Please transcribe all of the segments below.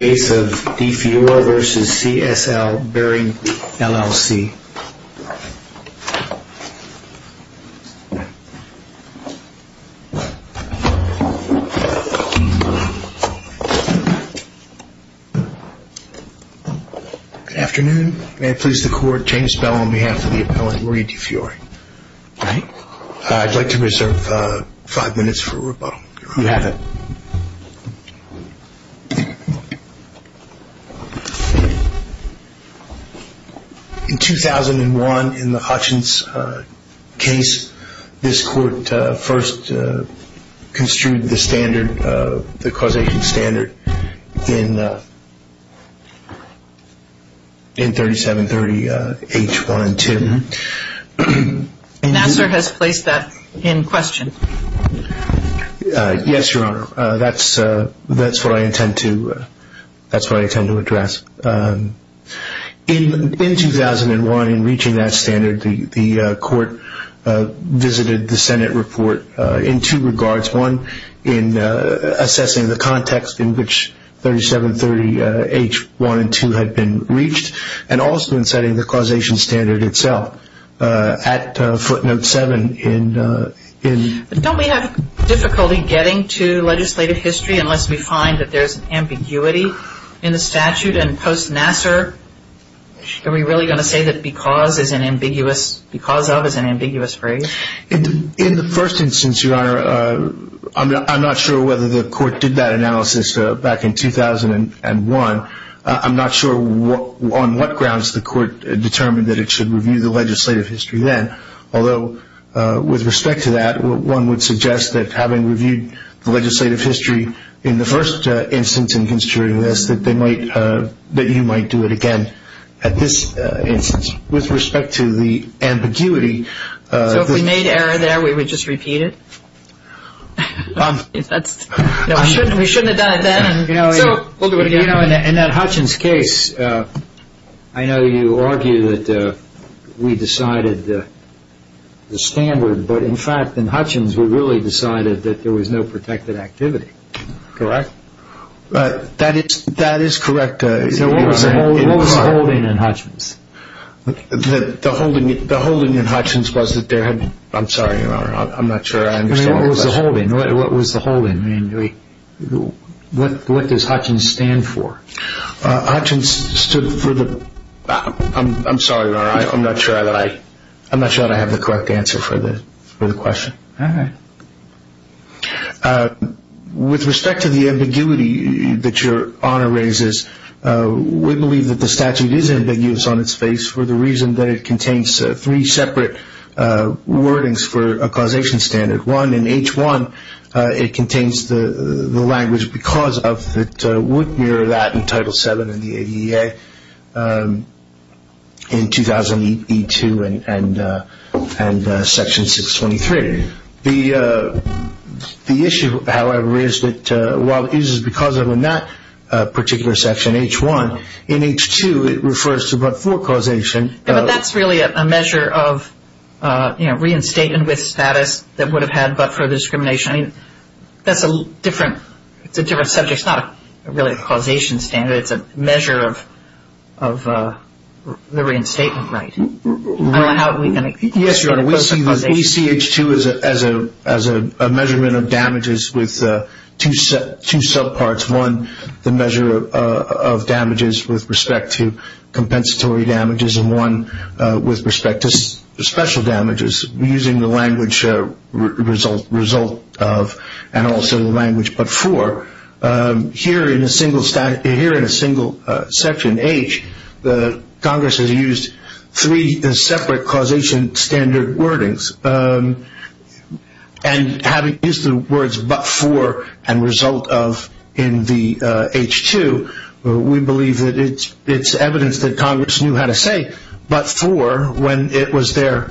Afternoon, may I please the court change the spell on behalf of the appellant Marie Difiore. I'd like to reserve five minutes for rebuttal. You have it. In 2001 in the Hutchins case, this court first construed the standard, the causation standard in 3730 H1 and 2. Nassar has placed that in question. Yes, Your Honor, that's what I intend to address. In 2001 in reaching that standard, the court visited the Senate report in two regards. One, in assessing the context in which 3730 H1 and 2 had been reached and also in setting the causation standard itself. Don't we have difficulty getting to legislative history unless we find that there's ambiguity in the statute? And post-Nassar, are we really going to say that because of is an ambiguous phrase? In the first instance, Your Honor, I'm not sure whether the court did that analysis back in 2001. I'm not sure on what grounds the court determined that it should review the legislative history then. Although, with respect to that, one would suggest that having reviewed the legislative history in the first instance in construing this, that you might do it again at this instance. With respect to the ambiguity. So if we made error there, we would just repeat it? We shouldn't have done it then. In that Hutchins case, I know you argue that we decided the standard, but in fact, in Hutchins, we really decided that there was no protected activity. Correct? That is correct. What was the holding in Hutchins? The holding in Hutchins was that there had been... I'm sorry, Your Honor, I'm not sure I understood the question. The holding, what was the holding? What does Hutchins stand for? Hutchins stood for the... I'm sorry, Your Honor, I'm not sure that I have the correct answer for the question. All right. With respect to the ambiguity that Your Honor raises, we believe that the statute is ambiguous on its face for the reason that it contains three separate wordings for a causation standard. One, in H1, it contains the language because of that would mirror that in Title VII in the ADEA in 2000 E2 and Section 623. The issue, however, is that while it uses because of in that particular section, H1, in H2, it refers to but for causation. But that's really a measure of reinstatement with status that would have had but for discrimination. That's a different subject. It's not really a causation standard. It's a measure of the reinstatement right. Yes, Your Honor, we see H2 as a measurement of damages with two subparts. One, the measure of damages with respect to compensatory damages, and one with respect to special damages using the language result of and also the language but for. Here in a single section, H, Congress has used three separate causation standard wordings. And having used the words but for and result of in the H2, we believe that it's evidence that Congress knew how to say but for when it was their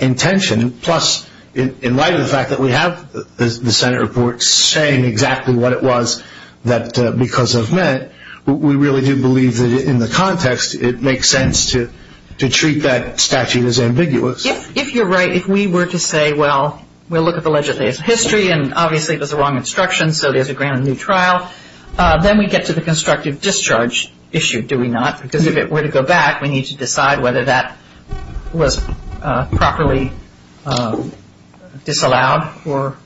intention. Plus, in light of the fact that we have the Senate report saying exactly what it was that because of meant, we really do believe that in the context, it makes sense to treat that statute as ambiguous. If you're right, if we were to say, well, we'll look at the legislative history. And obviously, there's a wrong instruction. So there's a grand new trial. Then we get to the constructive discharge issue, do we not? Because if it were to go back, we need to decide whether that was properly disallowed or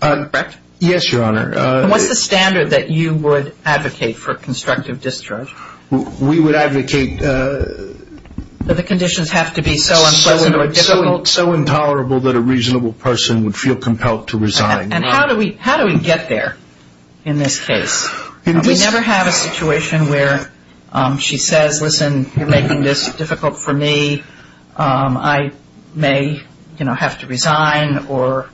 correct. Yes, Your Honor. What's the standard that you would advocate for constructive discharge? We would advocate that the conditions have to be so unpleasant or difficult. So intolerable that a reasonable person would feel compelled to resign. And how do we get there in this case? We never have a situation where she says, listen, you're making this difficult for me. I may, you know, have to resign or,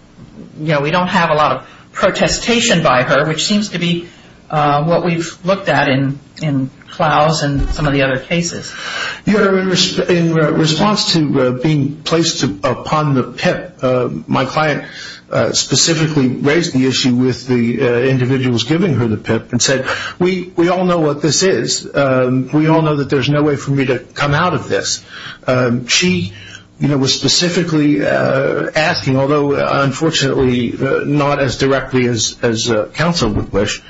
you know, we don't have a lot of protestation by her, which seems to be what we've looked at in Clouse and some of the other cases. Your Honor, in response to being placed upon the PIP, my client specifically raised the issue with the individuals giving her the PIP and said, we all know what this is. We all know that there's no way for me to come out of this. She, you know, was specifically asking, although unfortunately not as directly as counsel would wish,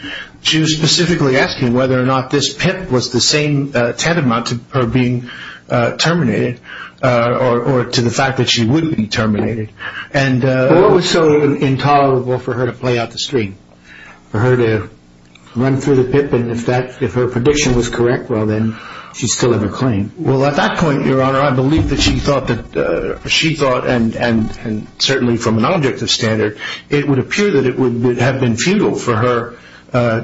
she was specifically asking whether or not this PIP was the same tantamount to her being terminated or to the fact that she would be terminated. What was so intolerable for her to play out the screen, for her to run through the PIP, and if her prediction was correct, well, then she's still in her claim? Well, at that point, Your Honor, I believe that she thought, and certainly from an objective standard, it would appear that it would have been futile for her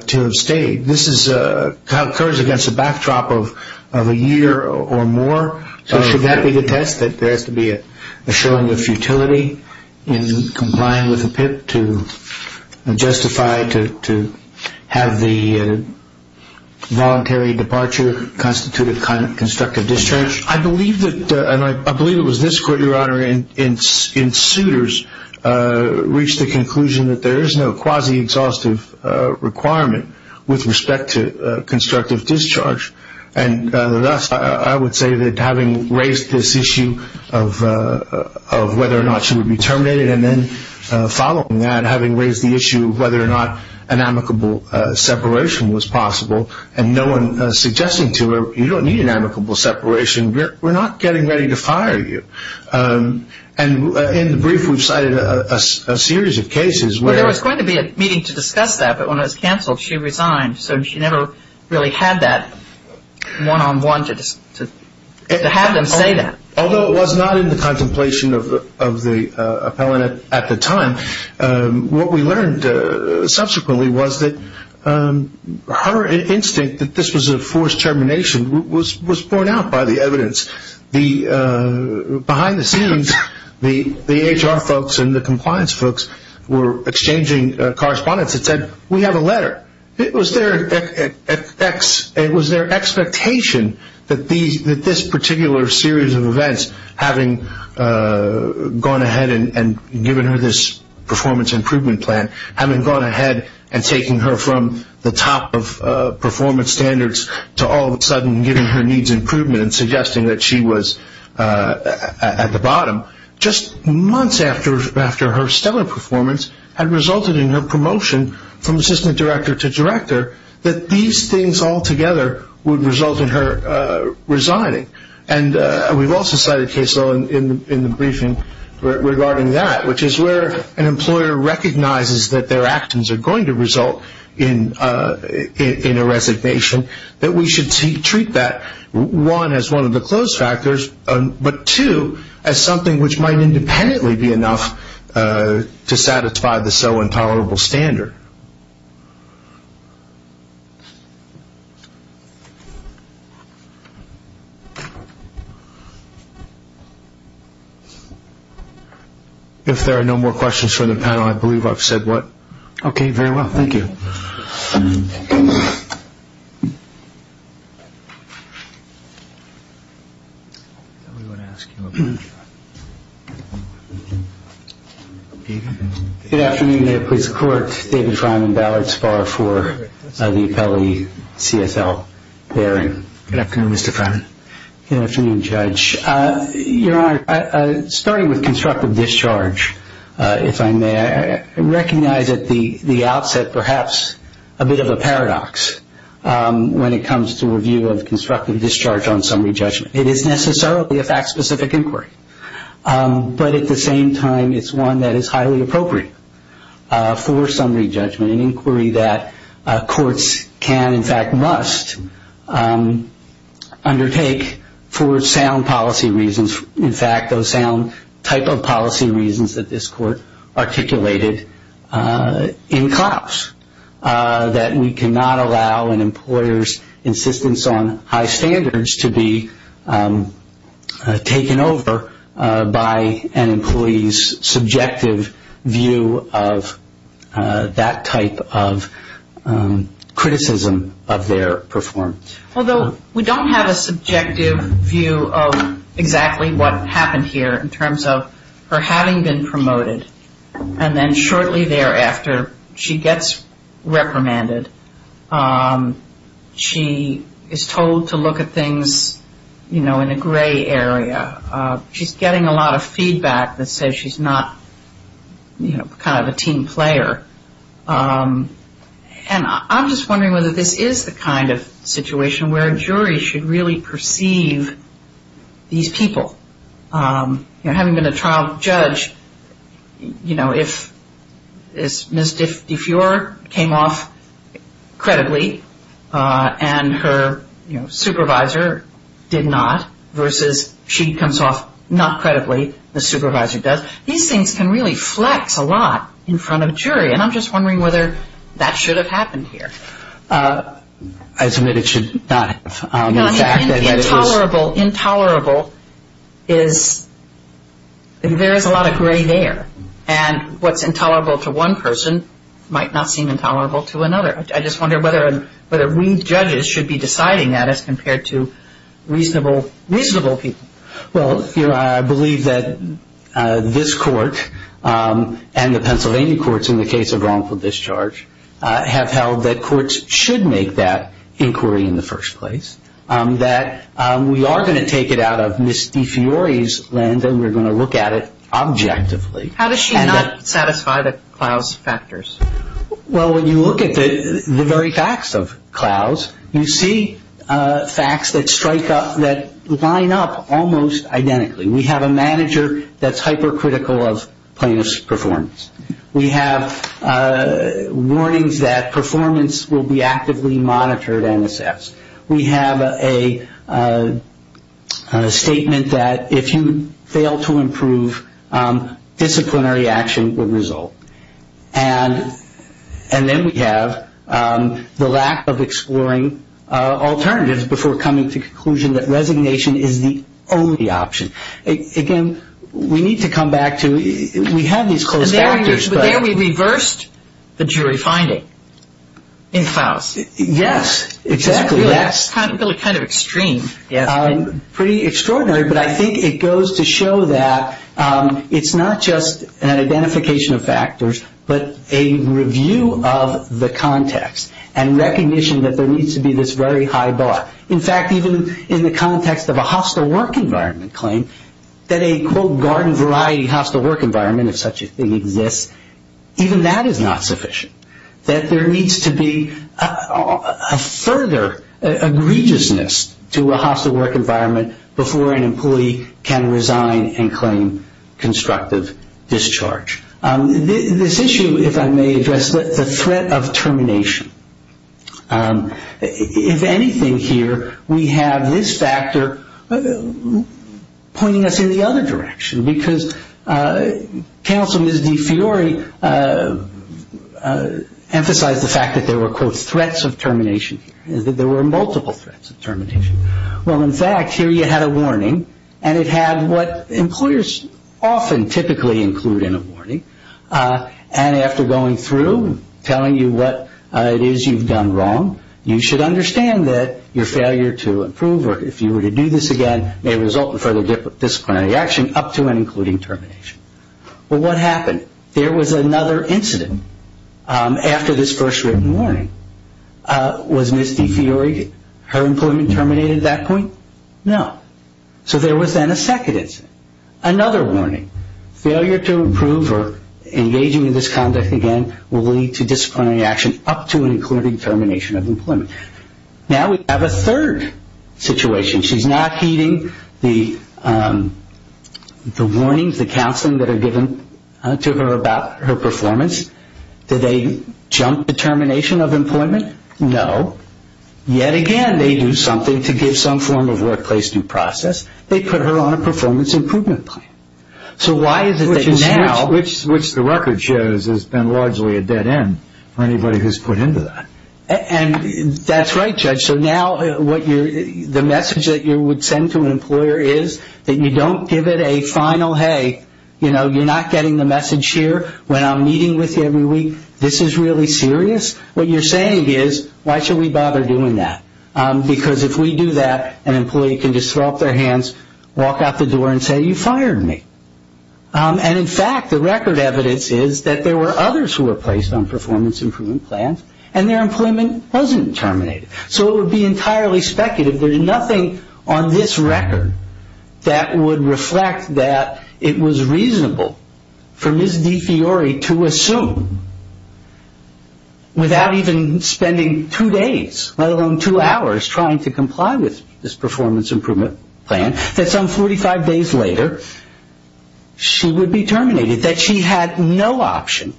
to have stayed. This occurs against a backdrop of a year or more. So should that be the test, that there has to be a showing of futility in complying with the PIP to justify, to have the voluntary departure constitute a constructive discharge? I believe that, and I believe it was this court, Your Honor, in Souters, reached the conclusion that there is no quasi-exhaustive requirement with respect to constructive discharge. And thus, I would say that having raised this issue of whether or not she would be terminated, and then following that, having raised the issue of whether or not an amicable separation was possible, and no one suggesting to her, you don't need an amicable separation, we're not getting ready to fire you. And in the brief, we've cited a series of cases where... Well, there was going to be a meeting to discuss that, but when it was canceled, she resigned. So she never really had that one-on-one to have them say that. Although it was not in the contemplation of the appellant at the time, what we learned subsequently was that her instinct that this was a forced termination was borne out by the evidence. Behind the scenes, the HR folks and the compliance folks were exchanging correspondence that said, we have a letter. It was their expectation that this particular series of events, having gone ahead and given her this performance improvement plan, having gone ahead and taking her from the top of performance standards to all of a sudden giving her needs improvement and suggesting that she was at the bottom, just months after her stellar performance had resulted in her promotion from assistant director to director, that these things all together would result in her resigning. And we've also cited a case in the briefing regarding that, which is where an employer recognizes that their actions are going to result in a resignation, that we should treat that, one, as one of the close factors, but two, as something which might independently be enough to satisfy the so intolerable standard. If there are no more questions from the panel, I believe I've said what? Okay, very well. Thank you. Good afternoon. May it please the court. David Fryman, Ballard Spar for the appellate CSL hearing. Good afternoon, Mr. Fryman. Good afternoon, Judge. Your Honor, starting with constructive discharge, if I may, I recognize at the outset perhaps a bit of a paradox when it comes to a view of constructive discharge on summary judgment. It is necessarily a fact-specific inquiry, but at the same time it's one that is highly appropriate for summary judgment, an inquiry that courts can, in fact, must undertake for sound policy reasons, in fact, those sound type of policy reasons that this court articulated in Klaus, that we cannot allow an employer's insistence on high standards to be taken over by an employee's subjective view of that type of criticism of their performance. Although we don't have a subjective view of exactly what happened here in terms of her having been promoted and then shortly thereafter she gets reprimanded. She is told to look at things, you know, in a gray area. She's getting a lot of feedback that says she's not, you know, kind of a team player. And I'm just wondering whether this is the kind of situation where a jury should really perceive these people. You know, having been a trial judge, you know, if Ms. DeFiore came off credibly and her, you know, supervisor did not versus she comes off not credibly, the supervisor does, these things can really flex a lot in front of a jury. And I'm just wondering whether that should have happened here. I submit it should not have. Intolerable is, there is a lot of gray there. And what's intolerable to one person might not seem intolerable to another. I just wonder whether we judges should be deciding that as compared to reasonable people. Well, you know, I believe that this court and the Pennsylvania courts in the case of wrongful discharge have held that courts should make that inquiry in the first place, that we are going to take it out of Ms. DeFiore's lens and we're going to look at it objectively. How does she not satisfy the Klaus factors? Well, when you look at the very facts of Klaus, you see facts that strike up, that line up almost identically. We have a manager that's hypercritical of plaintiff's performance. We have warnings that performance will be actively monitored and assessed. We have a statement that if you fail to improve, disciplinary action will result. And then we have the lack of exploring alternatives before coming to the conclusion that resignation is the only option. Again, we need to come back to we have these close factors. But there we reversed the jury finding in Klaus. Yes, exactly. It's really kind of extreme. Pretty extraordinary. But I think it goes to show that it's not just an identification of factors, but a review of the context and recognition that there needs to be this very high bar. In fact, even in the context of a hostile work environment claim, that a, quote, garden variety hostile work environment, if such a thing exists, even that is not sufficient. That there needs to be a further egregiousness to a hostile work environment before an employee can resign and claim constructive discharge. This issue, if I may address, the threat of termination. If anything here, we have this factor pointing us in the other direction because counsel Ms. DeFiori emphasized the fact that there were, quote, threats of termination here, that there were multiple threats of termination. Well, in fact, here you had a warning, and it had what employers often typically include in a warning. And after going through, telling you what it is you've done wrong, you should understand that your failure to improve or if you were to do this again may result in further disciplinary action up to and including termination. Well, what happened? There was another incident after this first written warning. Was Ms. DeFiori, her employment terminated at that point? No. So there was then a second incident, another warning. Failure to improve or engaging in this conduct again will lead to disciplinary action up to and including termination of employment. Now we have a third situation. She's not heeding the warnings, the counseling that are given to her about her performance. Did they jump the termination of employment? No. Yet again, they do something to give some form of workplace due process. They put her on a performance improvement plan. So why is it that now? Which the record shows has been largely a dead end for anybody who's put into that. And that's right, Judge. So now the message that you would send to an employer is that you don't give it a final, hey, you're not getting the message here when I'm meeting with you every week. This is really serious. What you're saying is, why should we bother doing that? Because if we do that, an employee can just throw up their hands, walk out the door and say, you fired me. And in fact, the record evidence is that there were others who were placed on performance improvement plans and their employment wasn't terminated. So it would be entirely speculative. There's nothing on this record that would reflect that it was reasonable for Ms. DeFiori to assume, without even spending two days, let alone two hours, trying to comply with this performance improvement plan, that some 45 days later she would be terminated, that she had no option,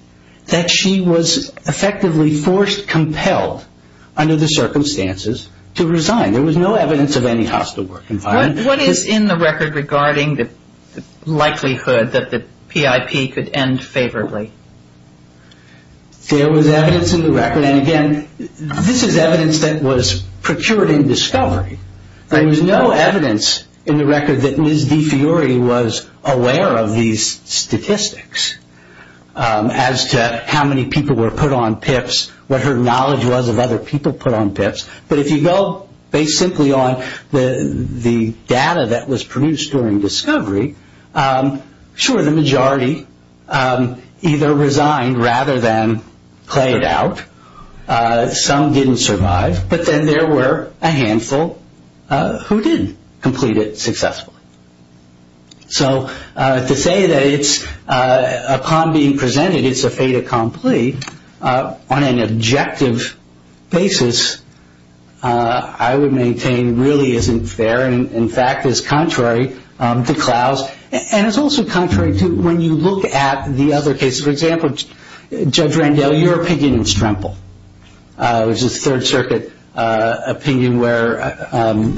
that she was effectively forced, compelled under the circumstances to resign. There was no evidence of any hostile work environment. What is in the record regarding the likelihood that the PIP could end favorably? There was evidence in the record, and again, this is evidence that was procured in discovery. There was no evidence in the record that Ms. DeFiori was aware of these statistics, as to how many people were put on PIPs, what her knowledge was of other people put on PIPs. But if you go based simply on the data that was produced during discovery, sure, the majority either resigned rather than played out. Some didn't survive, but then there were a handful who did complete it successfully. So to say that it's a con being presented, it's a fait accompli, on an objective basis, I would maintain really isn't fair, and in fact is contrary to Klaus. And it's also contrary to when you look at the other cases. For example, Judge Randell, your opinion in Strempel, which is a Third Circuit opinion, where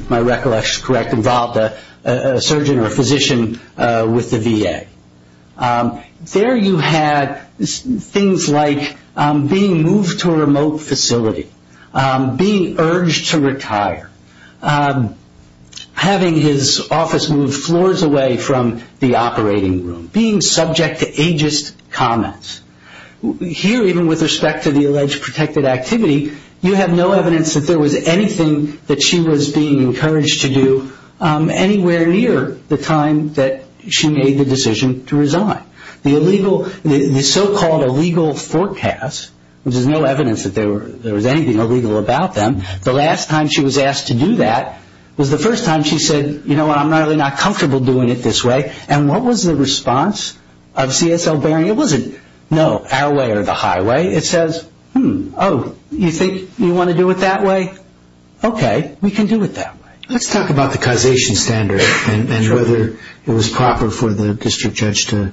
my recollection is correct, involved a surgeon or a physician with the VA. There you had things like being moved to a remote facility, being urged to retire, having his office moved floors away from the operating room, being subject to ageist comments. Here, even with respect to the alleged protected activity, you have no evidence that there was anything that she was being encouraged to do anywhere near the time that she made the decision to resign. The so-called illegal forecast, which is no evidence that there was anything illegal about them, the last time she was asked to do that was the first time she said, you know what, I'm really not comfortable doing it this way. And what was the response of CSL Bearing? It wasn't, no, our way or the highway. It says, hmm, oh, you think you want to do it that way? Okay, we can do it that way. Let's talk about the causation standard and whether it was proper for the district judge to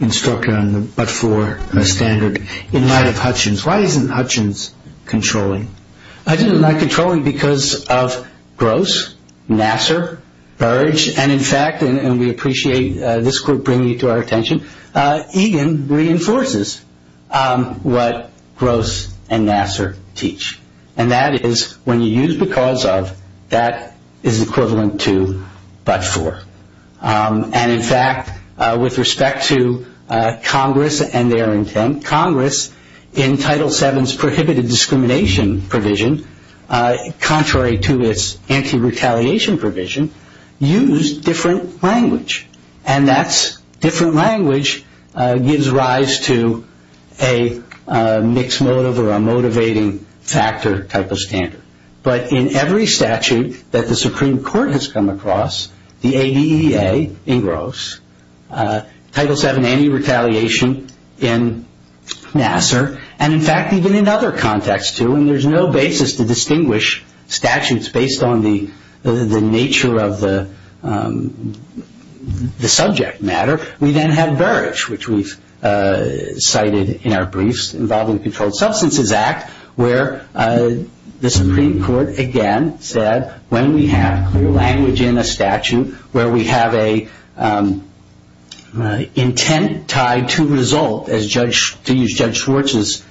instruct her on the but-for standard in light of Hutchins. Why isn't Hutchins controlling? Hutchins is not controlling because of Gross, Nassar, Burge, and in fact, and we appreciate this group bringing it to our attention, Egan reinforces what Gross and Nassar teach, and that is when you use because of, that is equivalent to but-for. And in fact, with respect to Congress and their intent, Congress in Title VII's prohibited discrimination provision, contrary to its anti-retaliation provision, used different language, and that's different language gives rise to a mixed motive or a motivating factor type of standard. But in every statute that the Supreme Court has come across, the ADEA in Gross, Title VII anti-retaliation in Nassar, and in fact, even in other contexts too, and there's no basis to distinguish statutes based on the nature of the subject matter. We then have Burge, which we've cited in our briefs, involving the Controlled Substances Act, where the Supreme Court, again, said when we have clear language in a statute where we have an intent tied to result, to use Judge Schwartz's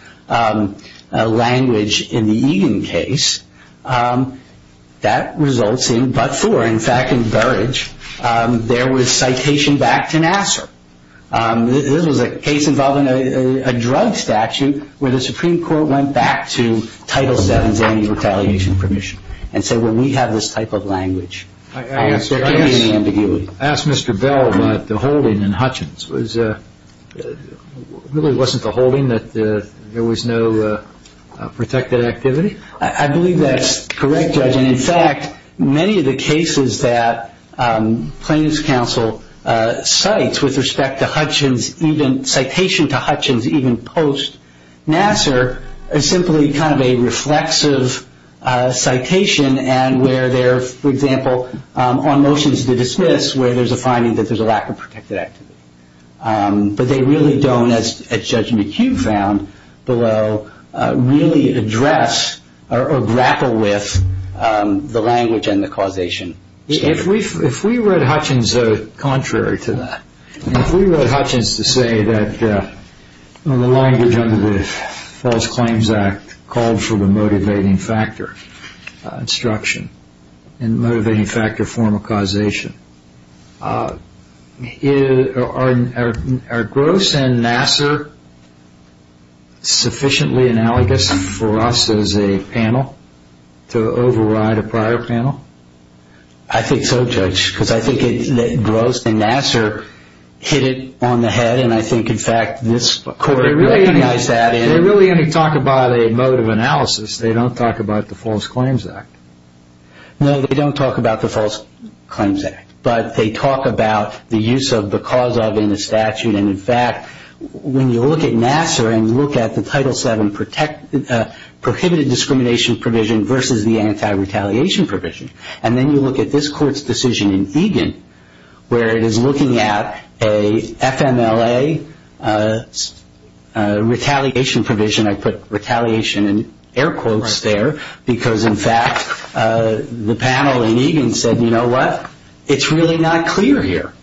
language in the Egan case, that results in but-for. In fact, in Burge, there was citation back to Nassar. This was a case involving a drug statute where the Supreme Court went back to Title VII's anti-retaliation provision and said when we have this type of language, there can be an ambiguity. I asked Mr. Bell about the holding in Hutchins. It really wasn't the holding that there was no protected activity? I believe that's correct, Judge, and in fact, many of the cases that Plaintiffs' Counsel cites with respect to Hutchins, citation to Hutchins even post-Nassar is simply kind of a reflexive citation and where they're, for example, on motions to dismiss, where there's a finding that there's a lack of protected activity. But they really don't, as Judge McHugh found below, really address or grapple with the language and the causation. If we read Hutchins contrary to that, if we read Hutchins to say that the language under the False Claims Act called for the motivating factor instruction and the motivating factor form of causation, are Gross and Nassar sufficiently analogous for us as a panel to override a prior panel? I think so, Judge, because I think that Gross and Nassar hit it on the head and I think, in fact, this Court recognized that. They really only talk about a mode of analysis. They don't talk about the False Claims Act. No, they don't talk about the False Claims Act, but they talk about the use of because of in the statute and, in fact, when you look at Nassar and you look at the Title VII prohibited discrimination provision versus the anti-retaliation provision and then you look at this Court's decision in Egan where it is looking at a FMLA retaliation provision. I put retaliation in air quotes there because, in fact, the panel in Egan said, you know what, it's really not clear here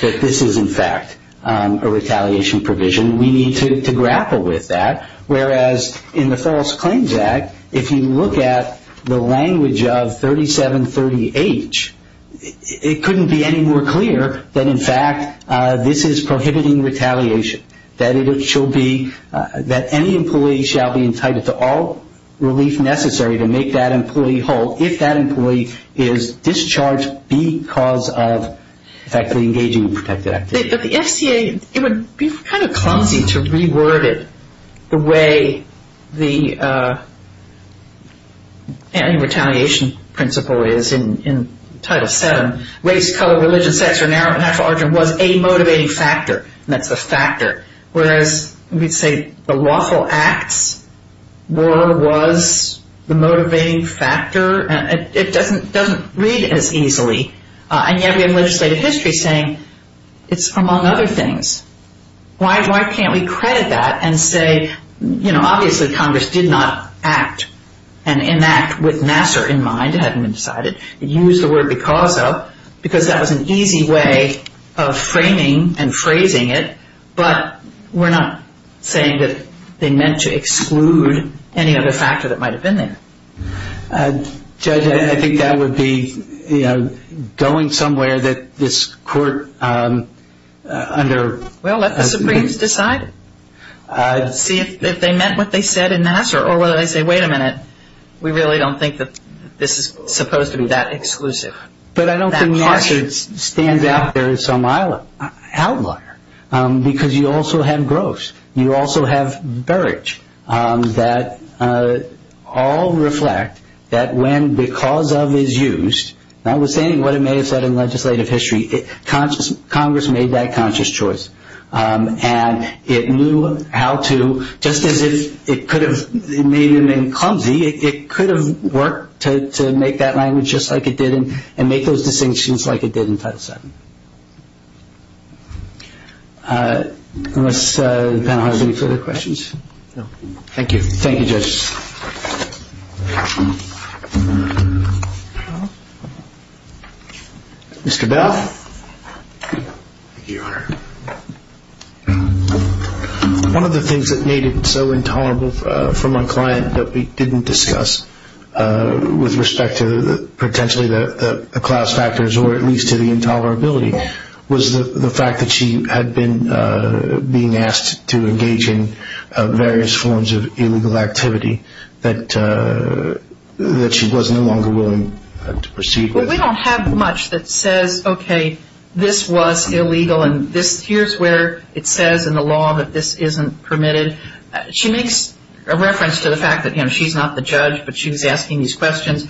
that this is, in fact, a retaliation provision. We need to grapple with that. Whereas in the False Claims Act, if you look at the language of 3730H, it couldn't be any more clear that, in fact, this is prohibiting retaliation, that any employee shall be entitled to all relief necessary to make that employee whole if that employee is discharged because of effectively engaging in protected activity. It would be kind of clumsy to reword it the way the anti-retaliation principle is in Title VII. Race, color, religion, sex, or natural origin was a motivating factor. That's a factor. Whereas we'd say the lawful acts were, was the motivating factor. It doesn't read as easily. And yet we have legislative history saying it's among other things. Why can't we credit that and say, you know, obviously Congress did not act and enact with Nassar in mind. It hadn't been decided. It used the word because of because that was an easy way of framing and phrasing it. But we're not saying that they meant to exclude any other factor that might have been there. Judge, I think that would be, you know, going somewhere that this court under. Well, let the Supremes decide. See if they meant what they said in Nassar or whether they say, wait a minute, we really don't think that this is supposed to be that exclusive. But I don't think Nassar stands out there as some outlier because you also have gross. You also have barrage that all reflect that when because of is used, notwithstanding what it may have said in legislative history, Congress made that conscious choice. And it knew how to, just as if it could have made it mean clumsy, it could have worked to make that language just like it did and make those distinctions like it did in Title VII. Unless the panel has any further questions. No. Thank you. Thank you, judges. Mr. Duff. Thank you, Your Honor. One of the things that made it so intolerable from our client that we didn't discuss with respect to potentially the Klaus factors or at least to the intolerability was the fact that she had been asked to engage in various forms of illegal activity that she was no longer willing to proceed with. Well, we don't have much that says, okay, this was illegal, and here's where it says in the law that this isn't permitted. She makes a reference to the fact that she's not the judge, but she's asking these questions.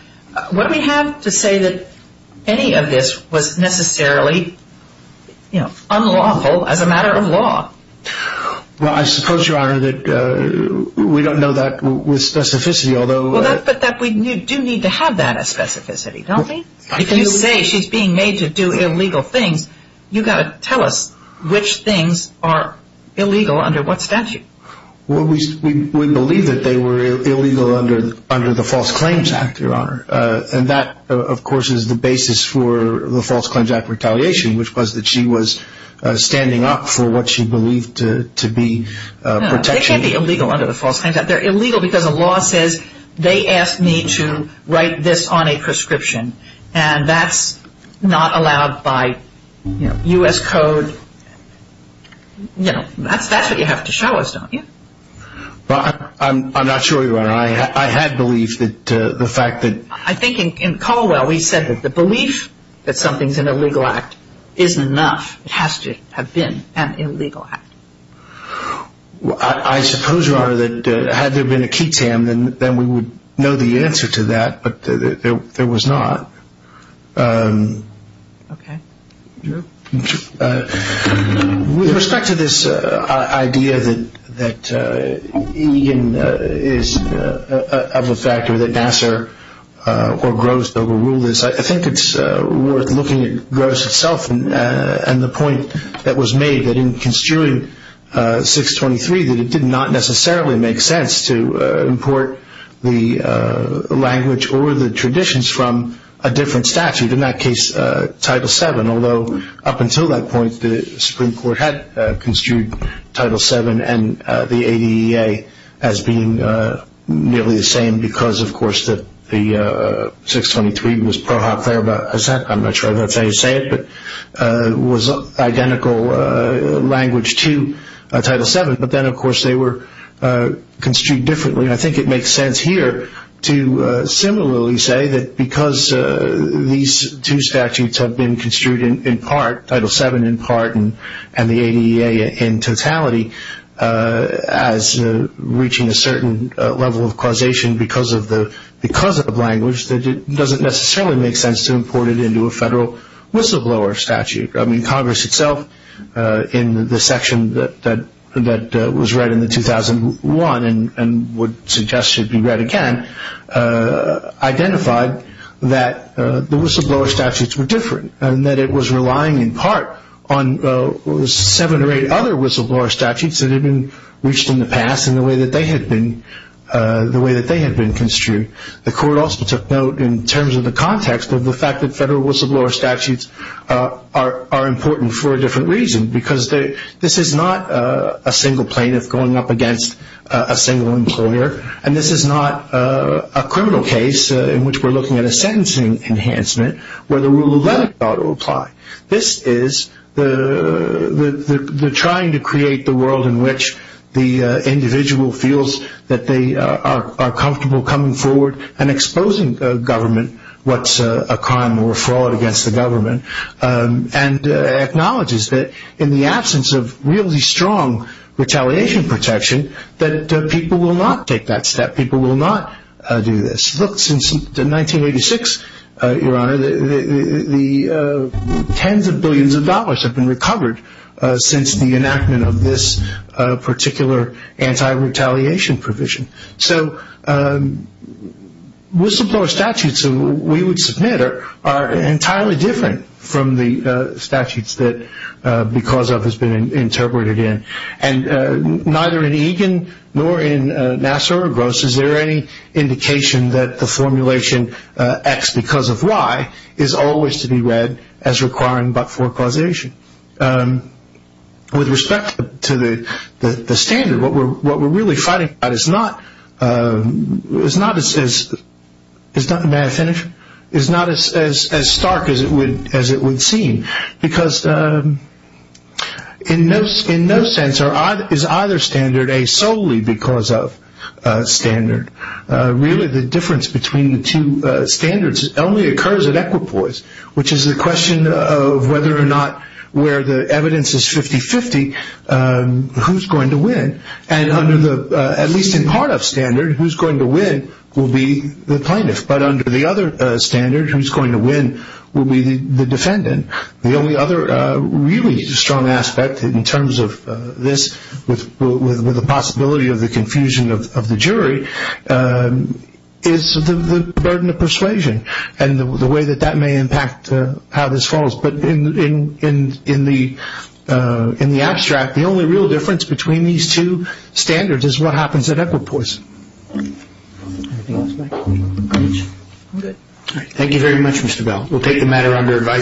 What do we have to say that any of this was necessarily, you know, unlawful as a matter of law? Well, I suppose, Your Honor, that we don't know that with specificity, although we do need to have that as specificity, don't we? If you say she's being made to do illegal things, you've got to tell us which things are illegal under what statute. Well, we believe that they were illegal under the False Claims Act, Your Honor, and that, of course, is the basis for the False Claims Act retaliation, which was that she was standing up for what she believed to be protection. No, they can't be illegal under the False Claims Act. They're illegal because the law says they asked me to write this on a prescription, and that's not allowed by U.S. Code. You know, that's what you have to show us, don't you? Well, I'm not sure, Your Honor. I had belief that the fact that... I think in Caldwell, he said that the belief that something's an illegal act isn't enough. It has to have been an illegal act. I suppose, Your Honor, that had there been a key tam, then we would know the answer to that, but there was not. Okay. Drew? With respect to this idea that Egan is of a factor that Nassar or Gross overruled this, I think it's worth looking at Gross itself and the point that was made that in construing 623 that it did not necessarily make sense to import the language or the traditions from a different statute, in that case, Title VII, although up until that point the Supreme Court had construed Title VII and the ADEA as being nearly the same because, of course, that the 623 was pro hoc, thereabout. I'm not sure that's how you say it, but it was identical language to Title VII, but then, of course, they were construed differently. I think it makes sense here to similarly say that because these two statutes have been construed in part, Title VII in part and the ADEA in totality as reaching a certain level of causation because of language, that it doesn't necessarily make sense to import it into a federal whistleblower statute. I mean, Congress itself in the section that was read in the 2001 and would suggest should be read again identified that the whistleblower statutes were different and that it was relying in part on seven or eight other whistleblower statutes that had been reached in the past in the way that they had been construed. The court also took note in terms of the context of the fact that federal whistleblower statutes are important for a different reason because this is not a single plaintiff going up against a single employer and this is not a criminal case in which we're looking at a sentencing enhancement where the rule of law ought to apply. This is the trying to create the world in which the individual feels that they are comfortable coming forward and exposing government what's a crime or a fraud against the government and acknowledges that in the absence of really strong retaliation protection that people will not take that step. People will not do this. It's looked since 1986, Your Honor, the tens of billions of dollars have been recovered since the enactment of this particular anti-retaliation provision. So whistleblower statutes we would submit are entirely different from the statutes that Because Of has been interpreted in. Neither in Egan nor in Nassar or Gross is there any indication that the formulation X Because Of Y is always to be read as requiring but-for causation. With respect to the standard, what we're really fighting about is not as stark as it would seem because in no sense is either standard a solely because of standard. Really the difference between the two standards only occurs at equipoise which is the question of whether or not where the evidence is 50-50 who's going to win and under the, at least in part of standard, who's going to win will be the plaintiff but under the other standard who's going to win will be the defendant. The only other really strong aspect in terms of this with the possibility of the confusion of the jury is the burden of persuasion and the way that that may impact how this falls. But in the abstract, the only real difference between these two standards is what happens at equipoise. Anything else, Mike? I'm good. Thank you very much, Mr. Bell. We'll take the matter under advisory.